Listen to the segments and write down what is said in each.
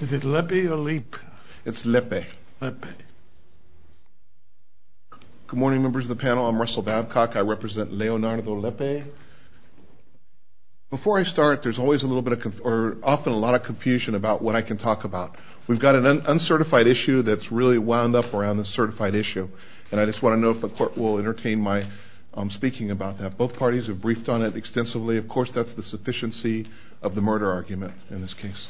Is it Lepe or Leap? It's Lepe. Good morning members of the panel. I'm Russell Babcock. I represent Leonardo Lepe. Before I start, there's always a little bit of, or often a lot of confusion about what I can talk about. We've got an uncertified issue that's really wound up around this certified issue. And I just want to know if the court will entertain my speaking about that. Both parties have briefed on it extensively. Of course, that's the sufficiency of the murder argument in this case.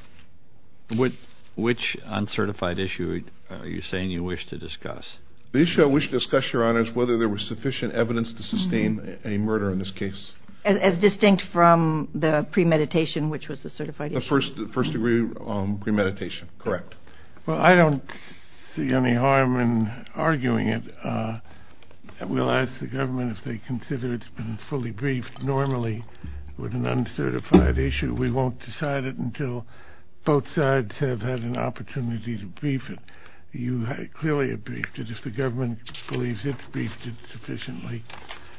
Which uncertified issue are you saying you wish to discuss? The issue I wish to discuss, your honor, is whether there was sufficient evidence to sustain a murder in this case. As distinct from the premeditation, which was the certified issue? The first degree premeditation, correct. Well, I don't see any harm in arguing it. We'll ask the government if they consider it's been fully briefed normally with an uncertified issue. We won't decide it until both sides have had an opportunity to brief it. You clearly have briefed it. If the government believes it's briefed it sufficiently,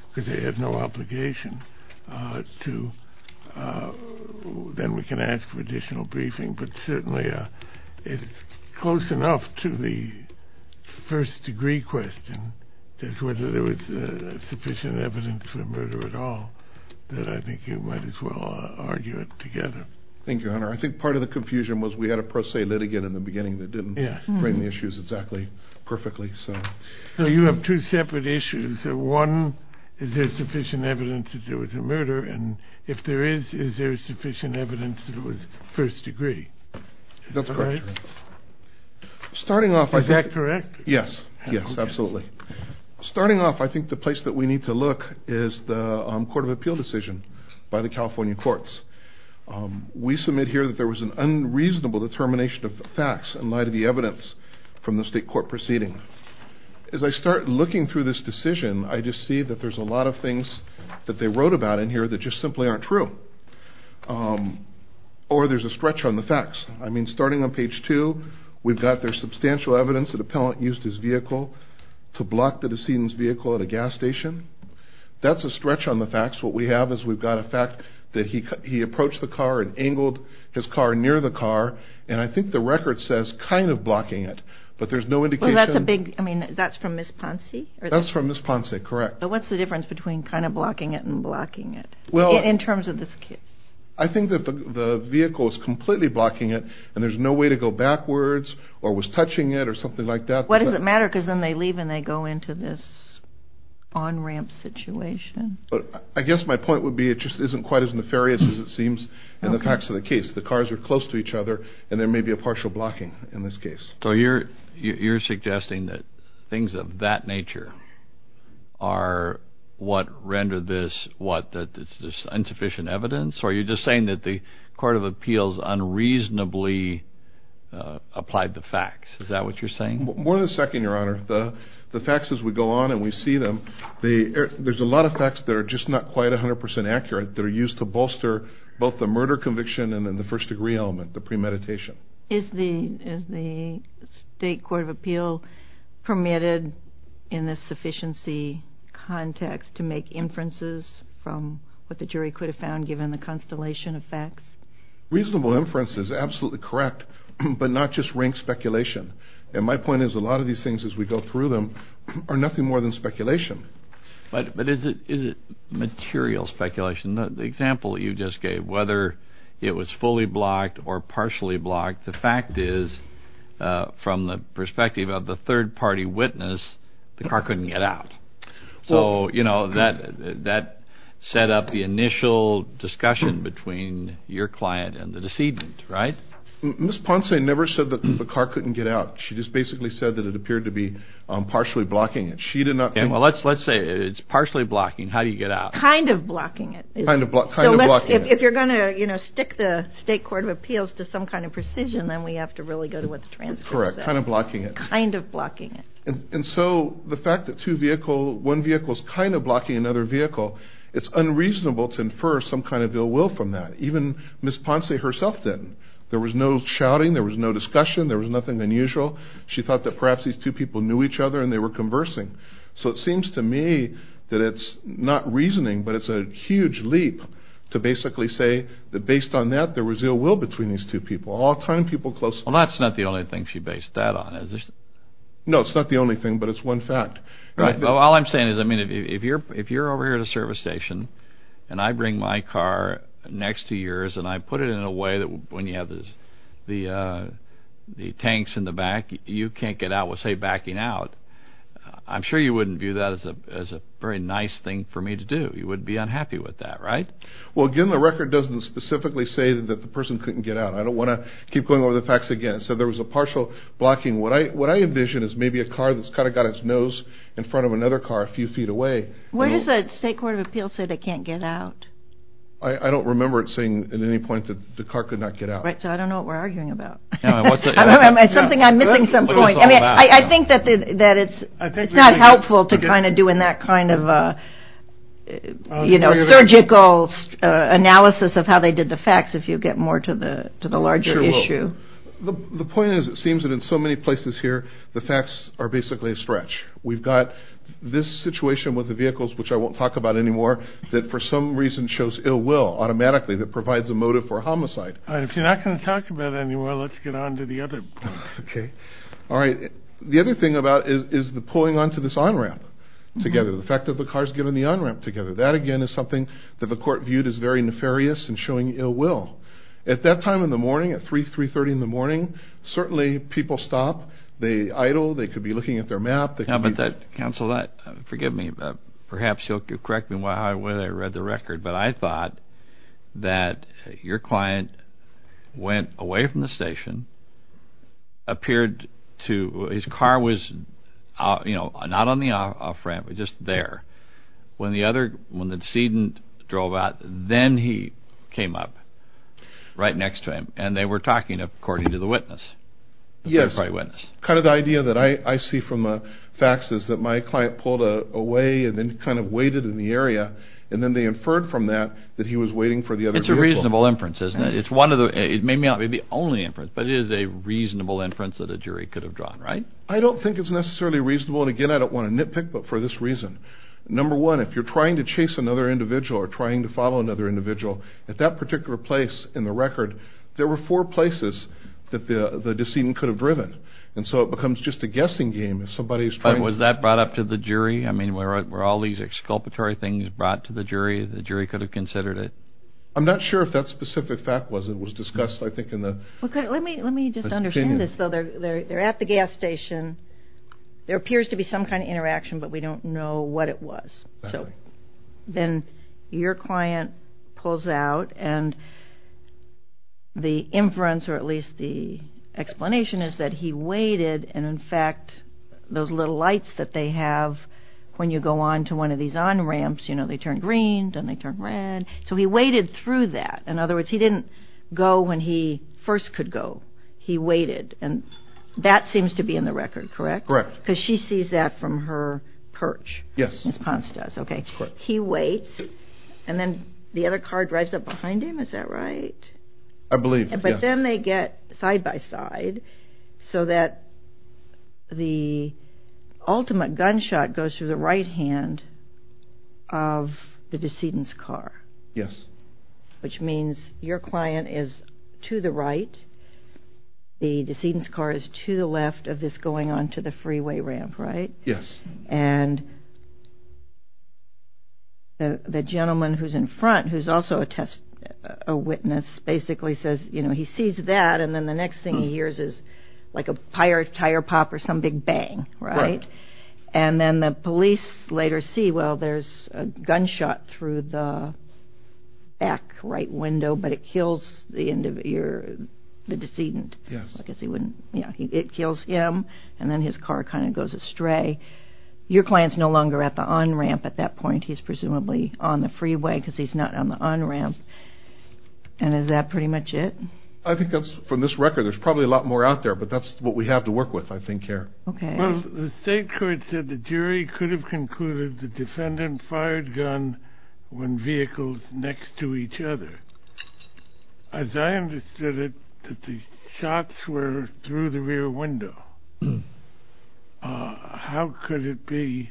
because they have no obligation to, then we can ask for additional briefing. But certainly, it's close enough to the first degree question, just whether there was sufficient evidence for a murder at all, that I think you might as well argue it together. Thank you, your honor. I think part of the confusion was we had a pro se litigant in the beginning that didn't frame the issues exactly perfectly. So you have two separate issues. One, is there sufficient evidence that there was a murder? And if there is, is there sufficient evidence that it was first degree? That's correct, your honor. Is that correct? Yes, yes, absolutely. Starting off, I think the place that we need to look is the Court of Appeal decision by the California courts. We submit here that there was an unreasonable determination of facts in light of the evidence from the state court proceeding. As I start looking through this decision, I just see that there's a lot of things that they wrote about in here that just simply aren't true. Or there's a stretch on the facts. I mean, starting on page two, we've got there's substantial evidence that an appellant used his vehicle to block the decedent's vehicle at a gas station. That's a stretch on the facts. What we have is we've got a fact that he approached the car and angled his car near the car. And I think the record says kind of blocking it, but there's no indication. That's from Ms. Ponce? That's from Ms. Ponce, correct. But what's the difference between kind of blocking it and blocking it, in terms of this case? I think that the vehicle is completely blocking it, and there's no way to go backwards, or was touching it, or something like that. What does it matter? Because then they leave and they go into this on-ramp situation. I guess my point would be it just isn't quite as nefarious as it seems in the facts of the case. The cars are close to each other, and there may be a partial blocking in this case. So you're suggesting that things of that nature are what render this what? That it's just insufficient evidence? Or are you just saying that the Court of Appeals unreasonably applied the facts? Is that what you're saying? More than a second, Your Honor. The facts as we go on and we see them, there's a lot of facts that are just not quite 100% accurate that are used to bolster both the murder conviction and then the first degree element, the premeditation. Is the State Court of Appeals permitted in this sufficiency context to make inferences from what the jury could have found given the constellation of facts? Reasonable inference is absolutely correct, but not just rank speculation. And my point is a lot of these things as we go through them are nothing more than speculation. But is it material speculation? The example you just gave, whether it was fully blocked or partially blocked, the fact is from the perspective of the third party witness, the car couldn't get out. So that set up the initial discussion between your client and the decedent, right? Ms. Ponce never said that the car couldn't get out. She just basically said that it appeared to be partially blocking it. Let's say it's partially blocking, how do you get out? Kind of blocking it. If you're going to stick the State Court of Appeals to some kind of precision, then we have to really go to what the transcript says. Correct, kind of blocking it. Kind of blocking it. And so the fact that one vehicle is kind of blocking another vehicle, it's unreasonable to infer some kind of ill will from that. Even Ms. Ponce herself didn't. There was no shouting, there was no discussion, there was nothing unusual. She thought that perhaps these two people knew each other and they were conversing. So it seems to me that it's not reasoning, but it's a huge leap to basically say that based on that, there was ill will between these two people. All time people closely. Well, that's not the only thing she based that on. No, it's not the only thing, but it's one fact. All I'm saying is, if you're over here at a service station and I bring my car next to yours and I put it in a way that when you have the tanks in the back, you can't get out with, say, backing out, I'm sure you wouldn't view that as a very nice thing for me to do. You wouldn't be unhappy with that, right? Well, again, the record doesn't specifically say that the person couldn't get out. I don't want to keep going over the facts again. So there was a partial blocking. What I envision is maybe a car that's kind of got its nose in front of another car a few feet away. Where does the State Court of Appeals say they can't get out? I don't remember it saying at any point that the car could not get out. Right, so I don't know what we're arguing about. It's something I'm missing some point. I mean, I think that it's not helpful to kind of do in that kind of, you know, surgical analysis of how they did the facts if you get more to the larger issue. The point is, it seems that in so many places here, the facts are basically a stretch. We've got this situation with the vehicles, which I won't talk about anymore, that for some reason shows ill will automatically that provides a motive for a homicide. All right, if you're not going to talk about it anymore, let's get on to the other point. Okay. All right. The other thing about it is the pulling onto this on-ramp together, the fact that the car's getting the on-ramp together. That, again, is something that the court viewed as very nefarious and showing ill will. At that time in the morning, at 3, 3.30 in the morning, certainly people stop. They idle. They could be looking at their map. Counsel, forgive me, but perhaps you'll correct me how I read the record, but I thought that your client went away from the station, appeared to, his car was, you know, parked there. When the other, when the decedent drove out, then he came up right next to him, and they were talking according to the witness. Yes. The third-party witness. Kind of the idea that I see from facts is that my client pulled away and then kind of waited in the area, and then they inferred from that that he was waiting for the other vehicle. It's a reasonable inference, isn't it? It's one of the, it may not be the only inference, but it is a reasonable inference that a jury could have drawn, right? I don't think it's necessarily reasonable, and again, I don't want to nitpick, but for this reason. Number one, if you're trying to chase another individual or trying to follow another individual, at that particular place in the record, there were four places that the decedent could have driven, and so it becomes just a guessing game if somebody's trying to... But was that brought up to the jury? I mean, were all these exculpatory things brought to the jury, the jury could have considered it? I'm not sure if that specific fact was discussed, I think, in the... Let me just understand this, though. They're at the gas station, there appears to be some kind of interaction, but we don't know what it was. So then your client pulls out, and the inference, or at least the explanation, is that he waited, and in fact, those little lights that they have when you go on to one of these on-ramps, you know, they turn green, then they turn red, so he waited through that. In other words, he didn't go when he first could go, he waited, and that seems to be in the record, correct? Correct. Because she sees that from her perch. Yes. Ms. Ponce does, okay. Correct. He waits, and then the other car drives up behind him, is that right? I believe, yes. But then they get side-by-side, so that the ultimate gunshot goes through the right hand of the decedent's car. Yes. Which means your client is to the right, the decedent's car is to the left of this going on to the freeway ramp, right? Yes. And the gentleman who's in front, who's also a witness, basically says, you know, he sees that, and then the next thing he hears is like a tire pop or some big bang, right? Right. And then the police later see, well, there's a gunshot through the back right window, but it kills the decedent. Yes. I guess he wouldn't, yeah, it kills him, and then his car kind of goes astray. Your client's no longer at the on-ramp at that point, he's presumably on the freeway, because he's not on the on-ramp, and is that pretty much it? I think that's, from this record, there's probably a lot more out there, but that's what we have to work with, I think, here. Okay. Well, the state court said the jury could have concluded the defendant fired gun when vehicles next to each other. As I understood it, that the shots were through the rear window. How could it be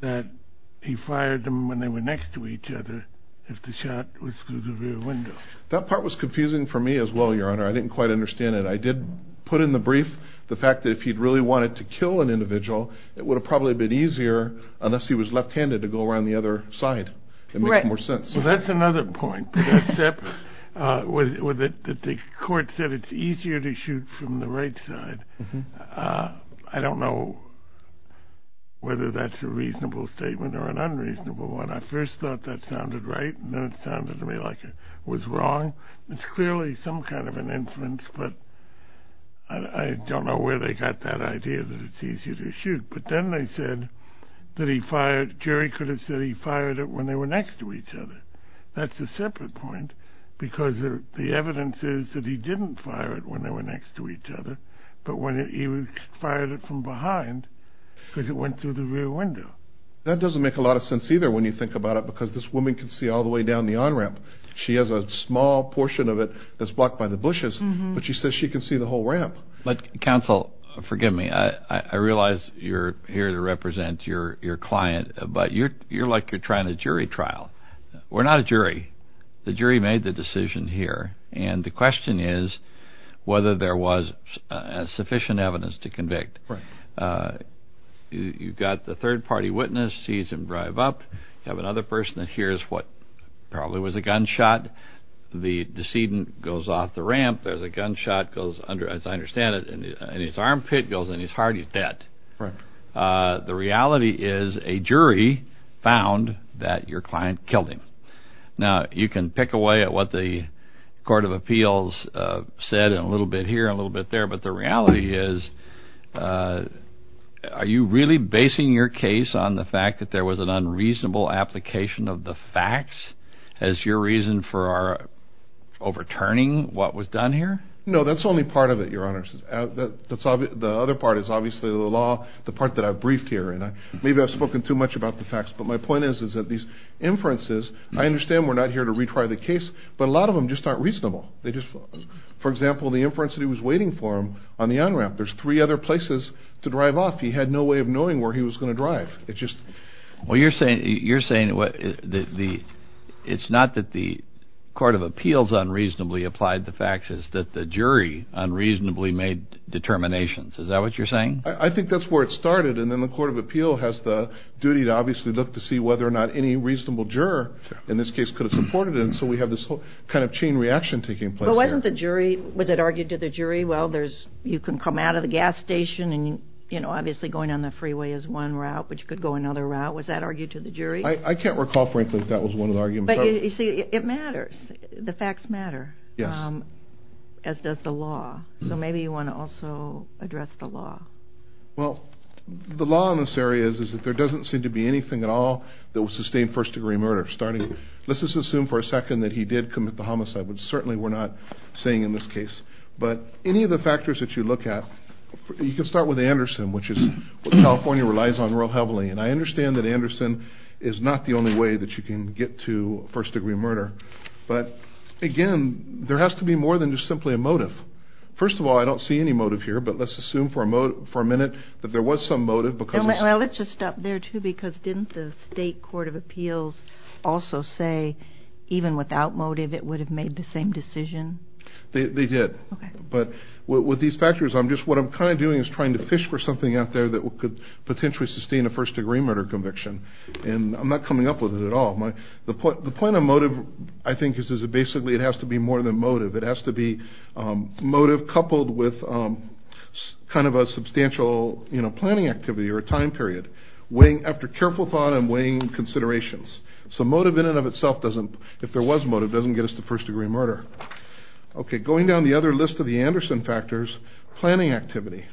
that he fired them when they were next to each other, if the shot was through the rear window? That part was confusing for me as well, Your Honor. I didn't quite understand it. I did put in the brief the fact that if he'd really wanted to kill an individual, it would have probably been easier, unless he was left-handed, to go around the other side. Right. It makes more sense. Well, that's another point, except that the court said it's easier to shoot from the right side. I don't know whether that's a reasonable statement or an unreasonable one. I first thought that sounded right, and then it sounded to me like it was wrong. It's clearly some kind of an inference, but I don't know where they got that idea that it's easier to shoot. But then they said that he fired, jury could have said he fired it when they were next to each other. That's a separate point, because the evidence is that he didn't fire it when they were next to each other, but when he fired it from behind, because it went through the rear window. That doesn't make a lot of sense, either, when you think about it, because this woman can see all the way down the on-ramp. She has a small portion of it that's blocked by the bushes, but she says she can see the whole ramp. But, counsel, forgive me. I realize you're here to represent your client, but you're like you're trying a jury trial. We're not a jury. The jury made the decision here, and the question is whether there was sufficient evidence to convict. Right. You've got the third-party witness sees him drive up, you have another person that hears what probably was a gunshot. The decedent goes off the ramp. There's a gunshot, as I understand it, and his armpit goes in his heart. He's dead. Right. The reality is a jury found that your client killed him. Now, you can pick away at what the Court of Appeals said a little bit here and a little bit there, but the reality is are you really basing your case on the fact that there was an unreasonable application of the facts as your reason for overturning what was done here? No, that's only part of it, Your Honor. The other part is obviously the law, the part that I've briefed here. Maybe I've spoken too much about the facts, but my point is that these inferences, I understand we're not here to retry the case, but a lot of them just aren't reasonable. For example, the inference that he was waiting for him on the on-ramp. There's three other places to drive off. He had no way of knowing where he was going to drive. Well, you're saying it's not that the Court of Appeals unreasonably applied the facts, it's that the jury unreasonably made determinations. Is that what you're saying? I think that's where it started, and then the Court of Appeals has the duty to obviously look to see whether or not any reasonable juror in this case could have supported it, and so we have this whole kind of chain reaction taking place here. But wasn't the jury, was it argued to the jury, well, you can come out of the gas station and obviously going on the freeway is one route, but you could go another route. Was that argued to the jury? I can't recall, frankly, if that was one of the arguments. But you see, it matters. The facts matter. Yes. As does the law. So maybe you want to also address the law. Well, the law in this area is that there doesn't seem to be anything at all that would sustain first-degree murder. Let's just assume for a second that he did commit the homicide, which certainly we're not saying in this case. But any of the factors that you look at, you can start with Anderson, which is what California relies on real heavily. And I understand that Anderson is not the only way that you can get to first-degree murder. But, again, there has to be more than just simply a motive. First of all, I don't see any motive here, but let's assume for a minute that there was some motive. Well, let's just stop there, too, because didn't the State Court of Appeals also say even without motive it would have made the same decision? They did. Okay. But with these factors, what I'm kind of doing is trying to fish for something out there that could potentially sustain a first-degree murder conviction. And I'm not coming up with it at all. The point of motive, I think, is basically it has to be more than motive. It has to be motive coupled with kind of a substantial planning activity or a time period, weighing after careful thought and weighing considerations. So motive in and of itself doesn't, if there was motive, doesn't get us to first-degree murder. Okay. Going down the other list of the Anderson factors, planning activity.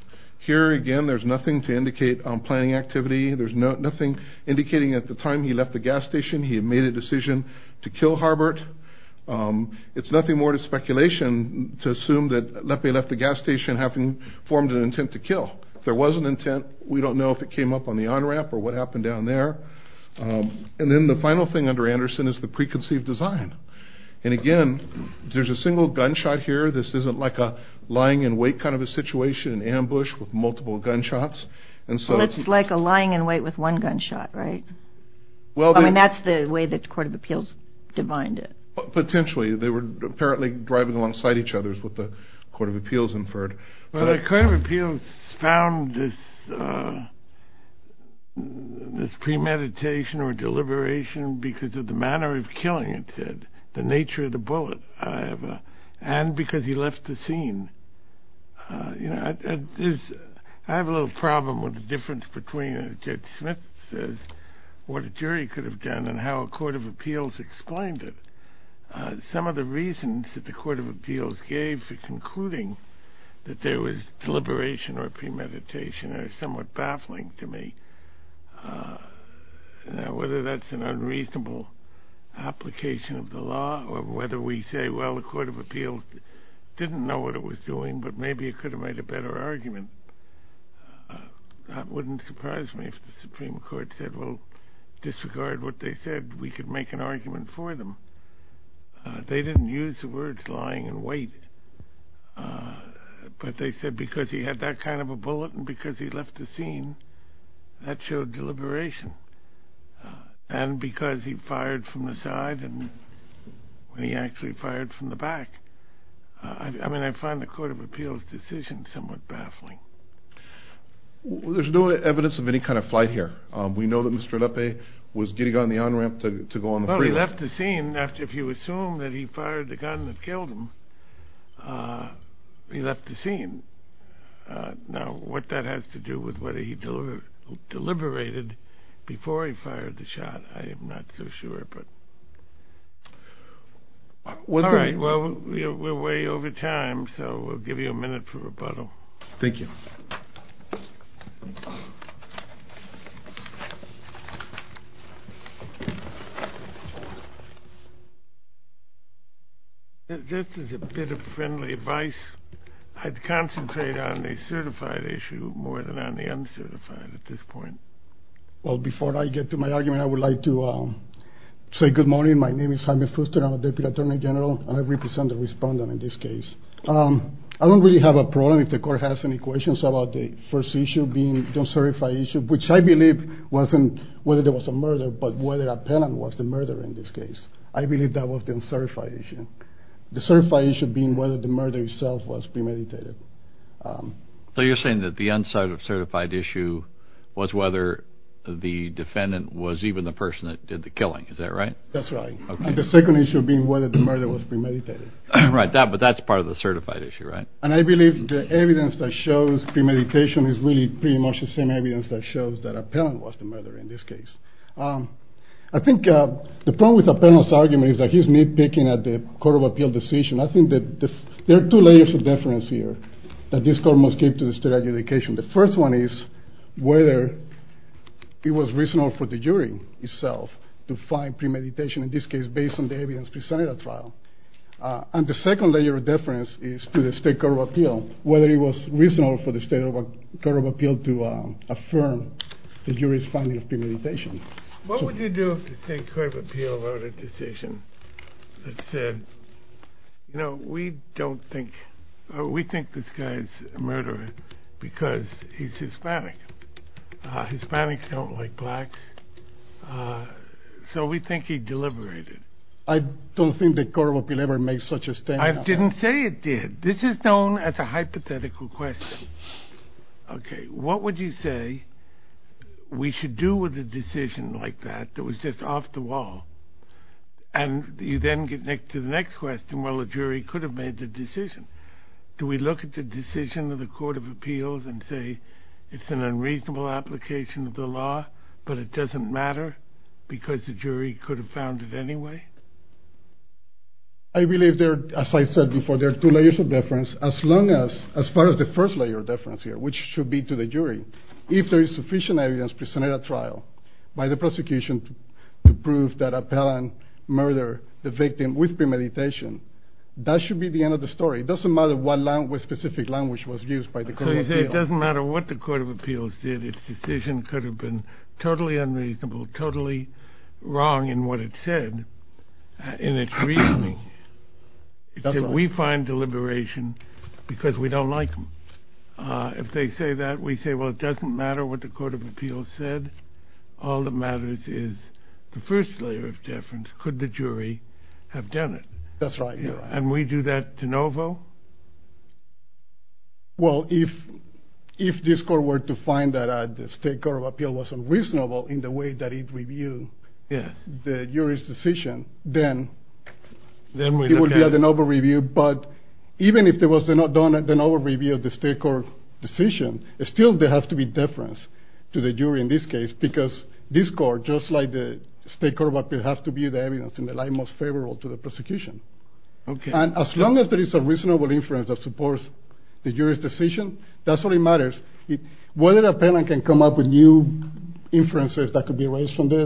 Here, again, there's nothing to indicate planning activity. There's nothing indicating at the time he left the gas station he had made a decision to kill Harbert. It's nothing more than speculation to assume that Lepe left the gas station having formed an intent to kill. If there was an intent, we don't know if it came up on the on-ramp or what happened down there. And then the final thing under Anderson is the preconceived design. And, again, there's a single gunshot here. This isn't like a lying-in-wait kind of a situation, an ambush with multiple gunshots. Well, it's like a lying-in-wait with one gunshot, right? I mean, that's the way the Court of Appeals defined it. Potentially. They were apparently driving alongside each other is what the Court of Appeals inferred. Well, the Court of Appeals found this premeditation or deliberation because of the manner of killing, it said. The nature of the bullet. And because he left the scene. I have a little problem with the difference between, as Judge Smith says, what a jury could have done and how a Court of Appeals explained it. Some of the reasons that the Court of Appeals gave for concluding that there was deliberation or premeditation are somewhat baffling to me. Whether that's an unreasonable application of the law or whether we say, well, the Court of Appeals didn't know what it was doing, but maybe it could have made a better argument. That wouldn't surprise me if the Supreme Court said, well, disregard what they said. We could make an argument for them. They didn't use the words lying-in-wait. But they said because he had that kind of a bullet and because he left the scene, that showed deliberation. And because he fired from the side and he actually fired from the back. I mean, I find the Court of Appeals' decision somewhat baffling. There's no evidence of any kind of flight here. We know that Mr. Lepe was getting on the on-ramp to go on the freeway. Well, he left the scene. If you assume that he fired the gun that killed him, he left the scene. Now, what that has to do with whether he deliberated before he fired the shot, I am not so sure. All right, well, we're way over time, so we'll give you a minute for rebuttal. Thank you. This is a bit of friendly advice. I'd concentrate on the certified issue more than on the uncertified at this point. Well, before I get to my argument, I would like to say good morning. My name is Jaime Fuster. I'm a Deputy Attorney General, and I represent the respondent in this case. I don't really have a problem if the Court has any questions about the first issue being the uncertified issue, which I believe wasn't whether there was a murder, but whether a penalty was the murder in this case. I believe that was the uncertified issue. The certified issue being whether the murder itself was premeditated. So you're saying that the uncertified issue was whether the defendant was even the person that did the killing. Is that right? That's right. And the second issue being whether the murder was premeditated. Right, but that's part of the certified issue, right? And I believe the evidence that shows premeditation is really pretty much the same evidence that shows that a penalty was the murder in this case. I think the problem with a penalty argument is that here's me picking at the Court of Appeal decision. I think that there are two layers of deference here that this Court must give to the State Adjudication. The first one is whether it was reasonable for the jury itself to find premeditation in this case based on the evidence presented at trial. And the second layer of deference is to the State Court of Appeal, whether it was reasonable for the State Court of Appeal to affirm the jury's finding of premeditation. What would you do if the State Court of Appeal wrote a decision that said, you know, we think this guy's a murderer because he's Hispanic. Hispanics don't like blacks, so we think he deliberated. I don't think the Court of Appeal ever made such a statement. I didn't say it did. This is known as a hypothetical question. Okay, what would you say we should do with a decision like that that was just off the wall? And you then get to the next question, well, the jury could have made the decision. Do we look at the decision of the Court of Appeals and say it's an unreasonable application of the law, but it doesn't matter because the jury could have found it anyway? I believe, as I said before, there are two layers of deference as far as the first layer of deference here, which should be to the jury. If there is sufficient evidence presented at trial by the prosecution to prove that Appellant murdered the victim with premeditation, that should be the end of the story. It doesn't matter what specific language was used by the Court of Appeals. If the decision could have been totally unreasonable, totally wrong in what it said, in its reasoning, we find deliberation because we don't like them. If they say that, we say, well, it doesn't matter what the Court of Appeals said. All that matters is the first layer of deference. Could the jury have done it? That's right. And we do that de novo? Well, if this Court were to find that the State Court of Appeals was unreasonable in the way that it reviewed the jury's decision, then it would be a de novo review. But even if there was a de novo review of the State Court decision, still there has to be deference to the jury in this case because this Court, just like the State Court of Appeals, has to be the evidence in the light most favorable to the prosecution. And as long as there is a reasonable inference that supports the jury's decision, that's all that matters. Whether an appellant can come up with new inferences that could be erased from the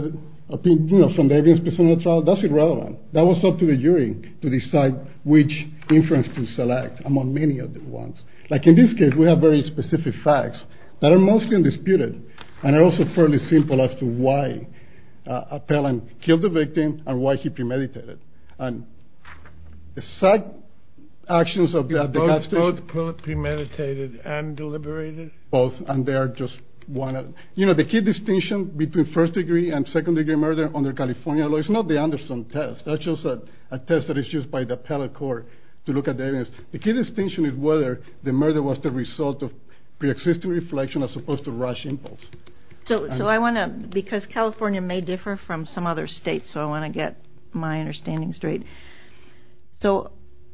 evidence presented in the trial, that's irrelevant. That was up to the jury to decide which inference to select among many of the ones. Like in this case, we have very specific facts that are mostly undisputed and are also fairly simple as to why an appellant killed the victim and why he premeditated. Both premeditated and deliberated? Both, and they are just one of them. You know, the key distinction between first-degree and second-degree murder under California law is not the Anderson test. That's just a test that is used by the appellate court to look at the evidence. The key distinction is whether the murder was the result of preexisting reflection as opposed to rash impulse. So I want to, because California may differ from some other states, so I want to get my understanding straight. So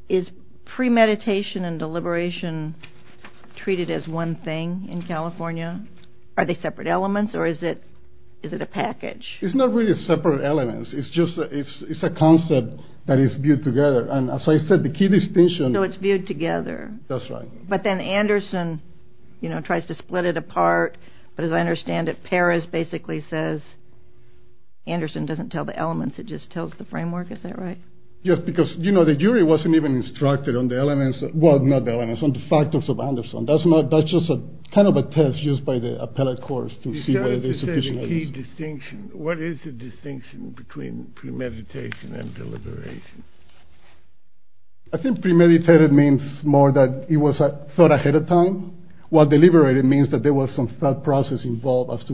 is premeditation and deliberation treated as one thing in California? Are they separate elements or is it a package? It's not really separate elements. It's just it's a concept that is viewed together. And as I said, the key distinction. So it's viewed together. That's right. But then Anderson, you know, tries to split it apart. But as I understand it, Perez basically says Anderson doesn't tell the elements. It just tells the framework. Is that right? Yes, because, you know, the jury wasn't even instructed on the elements. Well, not the elements, on the factors of Anderson. That's not, that's just a kind of a test used by the appellate courts to see whether there's sufficient evidence. You started to say the key distinction. What is the distinction between premeditation and deliberation? I think premeditated means more that it was thought ahead of time. While deliberated means that there was some thought process involved as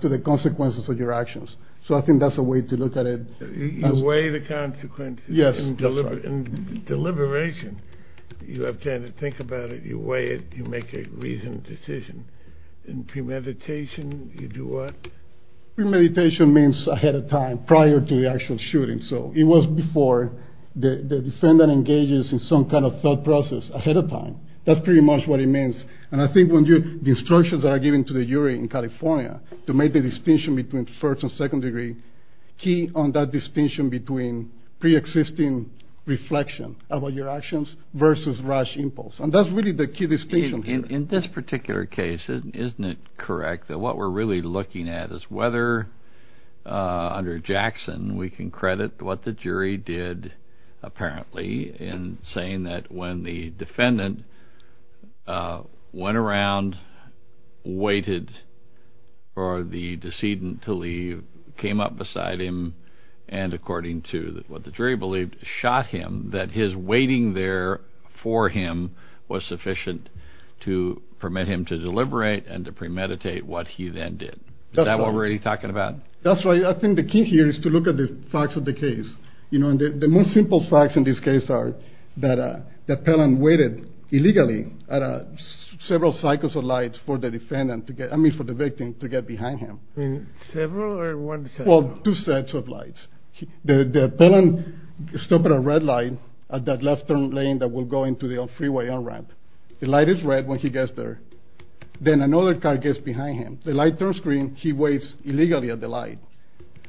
to the consequences of your actions. So I think that's a way to look at it. You weigh the consequences. Yes. In deliberation, you have time to think about it. You weigh it. You make a reasoned decision. In premeditation, you do what? Premeditation means ahead of time, prior to the actual shooting. So it was before the defendant engages in some kind of thought process ahead of time. That's pretty much what it means. And I think the instructions that are given to the jury in California to make the distinction between first and second degree, key on that distinction between preexisting reflection about your actions versus rash impulse. And that's really the key distinction here. In this particular case, isn't it correct that what we're really looking at is whether, under Jackson, we can credit what the jury did apparently in saying that when the defendant went around, waited for the decedent to leave, came up beside him, and according to what the jury believed, shot him, that his waiting there for him was sufficient to permit him to deliberate and to premeditate what he then did. Is that what we're really talking about? That's right. I think the key here is to look at the facts of the case. You know, the most simple facts in this case are that Pelham waited illegally at several cycles of lights for the victim to get behind him. Well, two sets of lights. The Pelham stopped at a red light at that left turn lane that will go into the freeway on-ramp. The light is red when he gets there. Then another car gets behind him. The light turns green. He waits illegally at the light.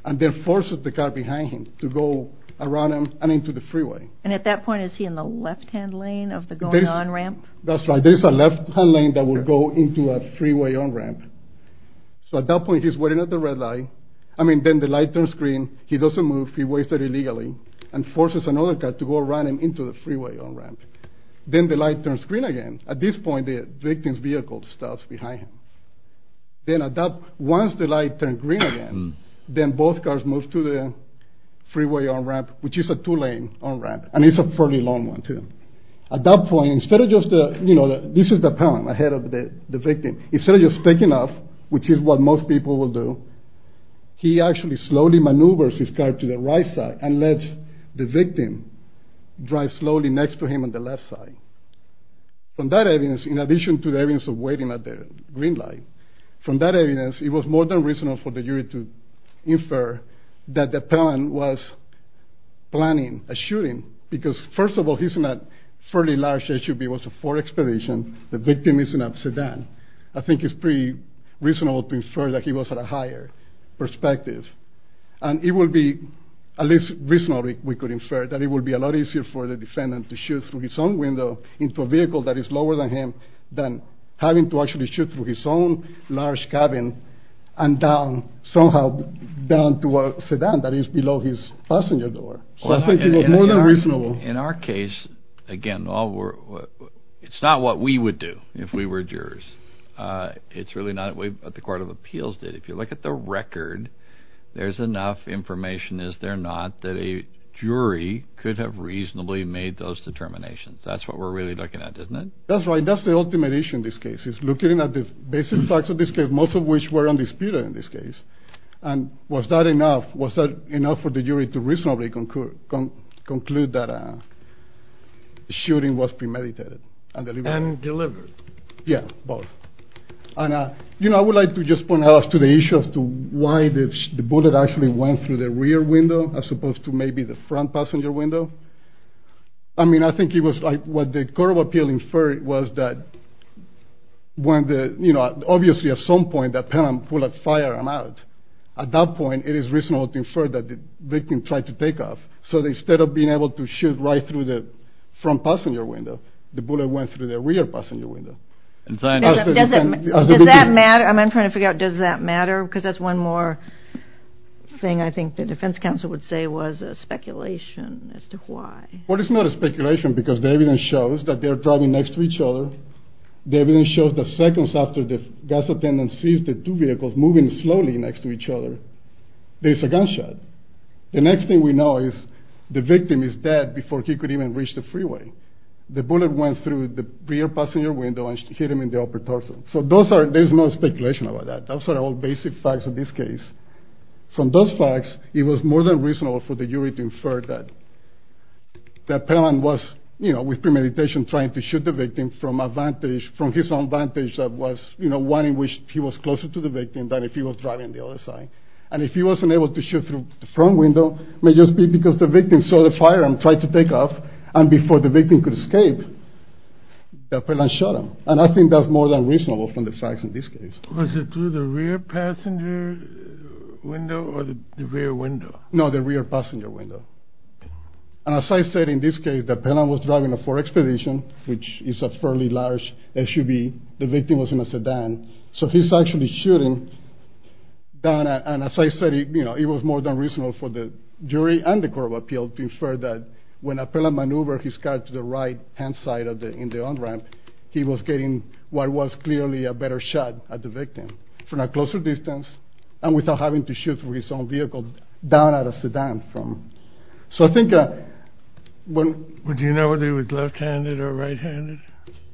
And then forces the car behind him to go around him and into the freeway. And at that point, is he in the left-hand lane of the going on-ramp? That's right. There's a left-hand lane that will go into a freeway on-ramp. So at that point, he's waiting at the red light. I mean, then the light turns green. He doesn't move. He waits there illegally and forces another car to go around him into the freeway on-ramp. Then the light turns green again. At this point, the victim's vehicle stops behind him. Then at that—once the light turns green again, then both cars move to the freeway on-ramp, which is a two-lane on-ramp. And it's a fairly long one, too. At that point, instead of just—you know, this is the Pelham ahead of the victim. Instead of just picking up, which is what most people will do, he actually slowly maneuvers his car to the right side and lets the victim drive slowly next to him on the left side. From that evidence, in addition to the evidence of waiting at the green light, from that evidence, it was more than reasonable for the jury to infer that the Pelham was planning a shooting because, first of all, he's in a fairly large SUV. It was a Ford Expedition. The victim is in a sedan. I think it's pretty reasonable to infer that he was at a higher perspective. And it would be at least reasonable, we could infer, that it would be a lot easier for the defendant to shoot through his own window into a vehicle that is lower than him than having to actually shoot through his own large cabin and down, somehow, down to a sedan that is below his passenger door. So I think it was more than reasonable. In our case, again, it's not what we would do if we were jurors. It's really not what the Court of Appeals did. If you look at the record, there's enough information, is there not, that a jury could have reasonably made those determinations. That's what we're really looking at, isn't it? That's right. That's the ultimate issue in this case. It's looking at the basic facts of this case, most of which were undisputed in this case. And was that enough for the jury to reasonably conclude that a shooting was premeditated? And delivered. Yeah, both. And I would like to just point out to the issue as to why the bullet actually went through the rear window as opposed to maybe the front passenger window. I mean, I think it was like what the Court of Appeals inferred was that obviously at some point that pen and bullet fired him out. At that point, it is reasonable to infer that the victim tried to take off. So instead of being able to shoot right through the front passenger window, the bullet went through the rear passenger window. Does that matter? I'm trying to figure out, does that matter? Because that's one more thing I think the defense counsel would say was a speculation as to why. Well, it's not a speculation because the evidence shows that they're driving next to each other. The evidence shows that seconds after the gas attendant sees the two vehicles moving slowly next to each other, there's a gunshot. The next thing we know is the victim is dead before he could even reach the freeway. The bullet went through the rear passenger window and hit him in the upper torso. So there's no speculation about that. Those are all basic facts in this case. From those facts, it was more than reasonable for the jury to infer that Perlan was, you know, with premeditation trying to shoot the victim from his own vantage that was, you know, one in which he was closer to the victim than if he was driving the other side. And if he wasn't able to shoot through the front window, it may just be because the victim saw the fire and tried to take off and before the victim could escape, Perlan shot him. And I think that's more than reasonable from the facts in this case. Was it through the rear passenger window or the rear window? No, the rear passenger window. And as I said, in this case, Perlan was driving a Ford Expedition, which is a fairly large SUV. The victim was in a sedan. So he's actually shooting down at, and as I said, it was more than reasonable for the jury and the court of appeals to infer that when Perlan maneuvered his car to the right-hand side in the on-ramp, he was getting what was clearly a better shot at the victim from a closer distance and without having to shoot through his own vehicle down at a sedan. So I think when... Do you know whether he was left-handed or right-handed?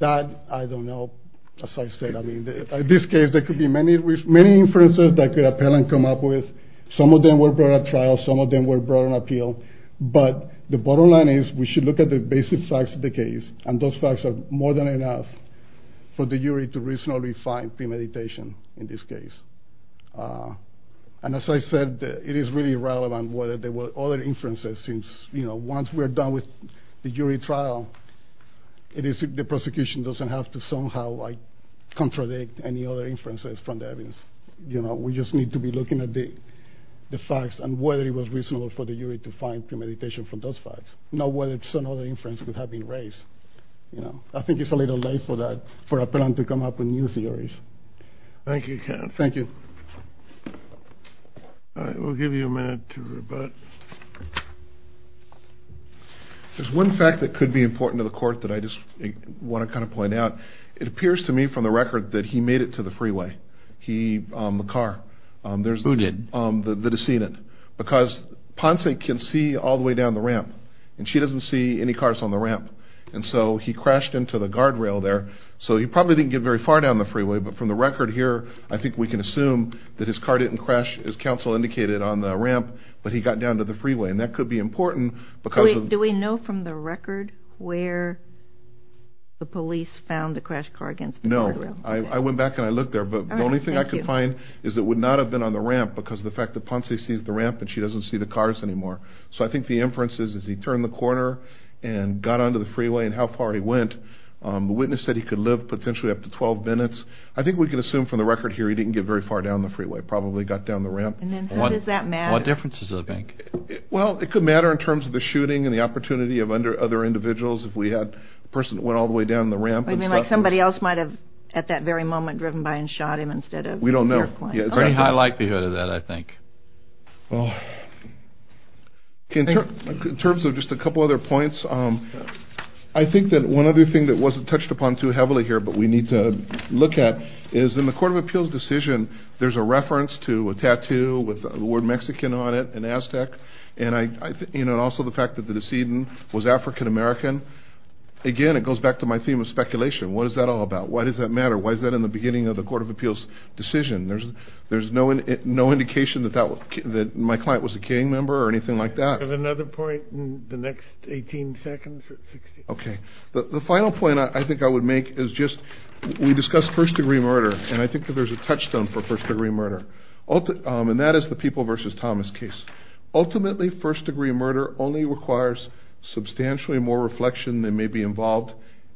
That I don't know, as I said. I mean, in this case, there could be many inferences that Perlan could come up with. Some of them were brought at trial. Some of them were brought on appeal. But the bottom line is we should look at the basic facts of the case, and those facts are more than enough for the jury to reasonably find premeditation in this case. And as I said, it is really irrelevant whether there were other inferences, since once we're done with the jury trial, the prosecution doesn't have to somehow contradict any other inferences from the evidence. We just need to be looking at the facts and whether it was reasonable for the jury to find premeditation from those facts, not whether some other inference could have been raised. I think it's a little late for Perlan to come up with new theories. Thank you, Ken. Thank you. All right, we'll give you a minute to rebut. There's one fact that could be important to the court that I just want to kind of point out. It appears to me from the record that he made it to the freeway, the car. Who did? The decedent. The decedent, because Ponce can see all the way down the ramp, and she doesn't see any cars on the ramp, and so he crashed into the guardrail there. So he probably didn't get very far down the freeway, but from the record here, I think we can assume that his car didn't crash, as counsel indicated, on the ramp, but he got down to the freeway, and that could be important because of the- Do we know from the record where the police found the crashed car against the guardrail? No, I went back and I looked there, but the only thing I could find is it would not have been on the ramp because of the fact that Ponce sees the ramp and she doesn't see the cars anymore. So I think the inference is he turned the corner and got onto the freeway and how far he went. The witness said he could live potentially up to 12 minutes. I think we can assume from the record here he didn't get very far down the freeway, probably got down the ramp. And then how does that matter? What difference does it make? Well, it could matter in terms of the shooting and the opportunity of other individuals. If we had a person that went all the way down the ramp and- You mean like somebody else might have at that very moment driven by and shot him instead of- We don't know. Very high likelihood of that, I think. In terms of just a couple other points, I think that one other thing that wasn't touched upon too heavily here but we need to look at is in the Court of Appeals decision there's a reference to a tattoo with the word Mexican on it and Aztec. And also the fact that the decedent was African American. Again, it goes back to my theme of speculation. What is that all about? Why does that matter? Why is that in the beginning of the Court of Appeals decision? There's no indication that my client was a killing member or anything like that. We have another point in the next 18 seconds or 16. Okay. The final point I think I would make is just we discussed first-degree murder and I think that there's a touchstone for first-degree murder. And that is the People v. Thomas case. Ultimately, first-degree murder only requires substantially more reflection than may be involved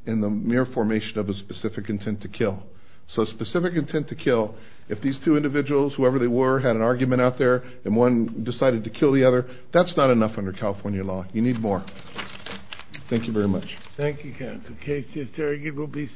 in the mere formation of a specific intent to kill. So specific intent to kill, if these two individuals, whoever they were, had an argument out there and one decided to kill the other, that's not enough under California law. You need more. Thank you very much. Thank you, counsel. The case is argued.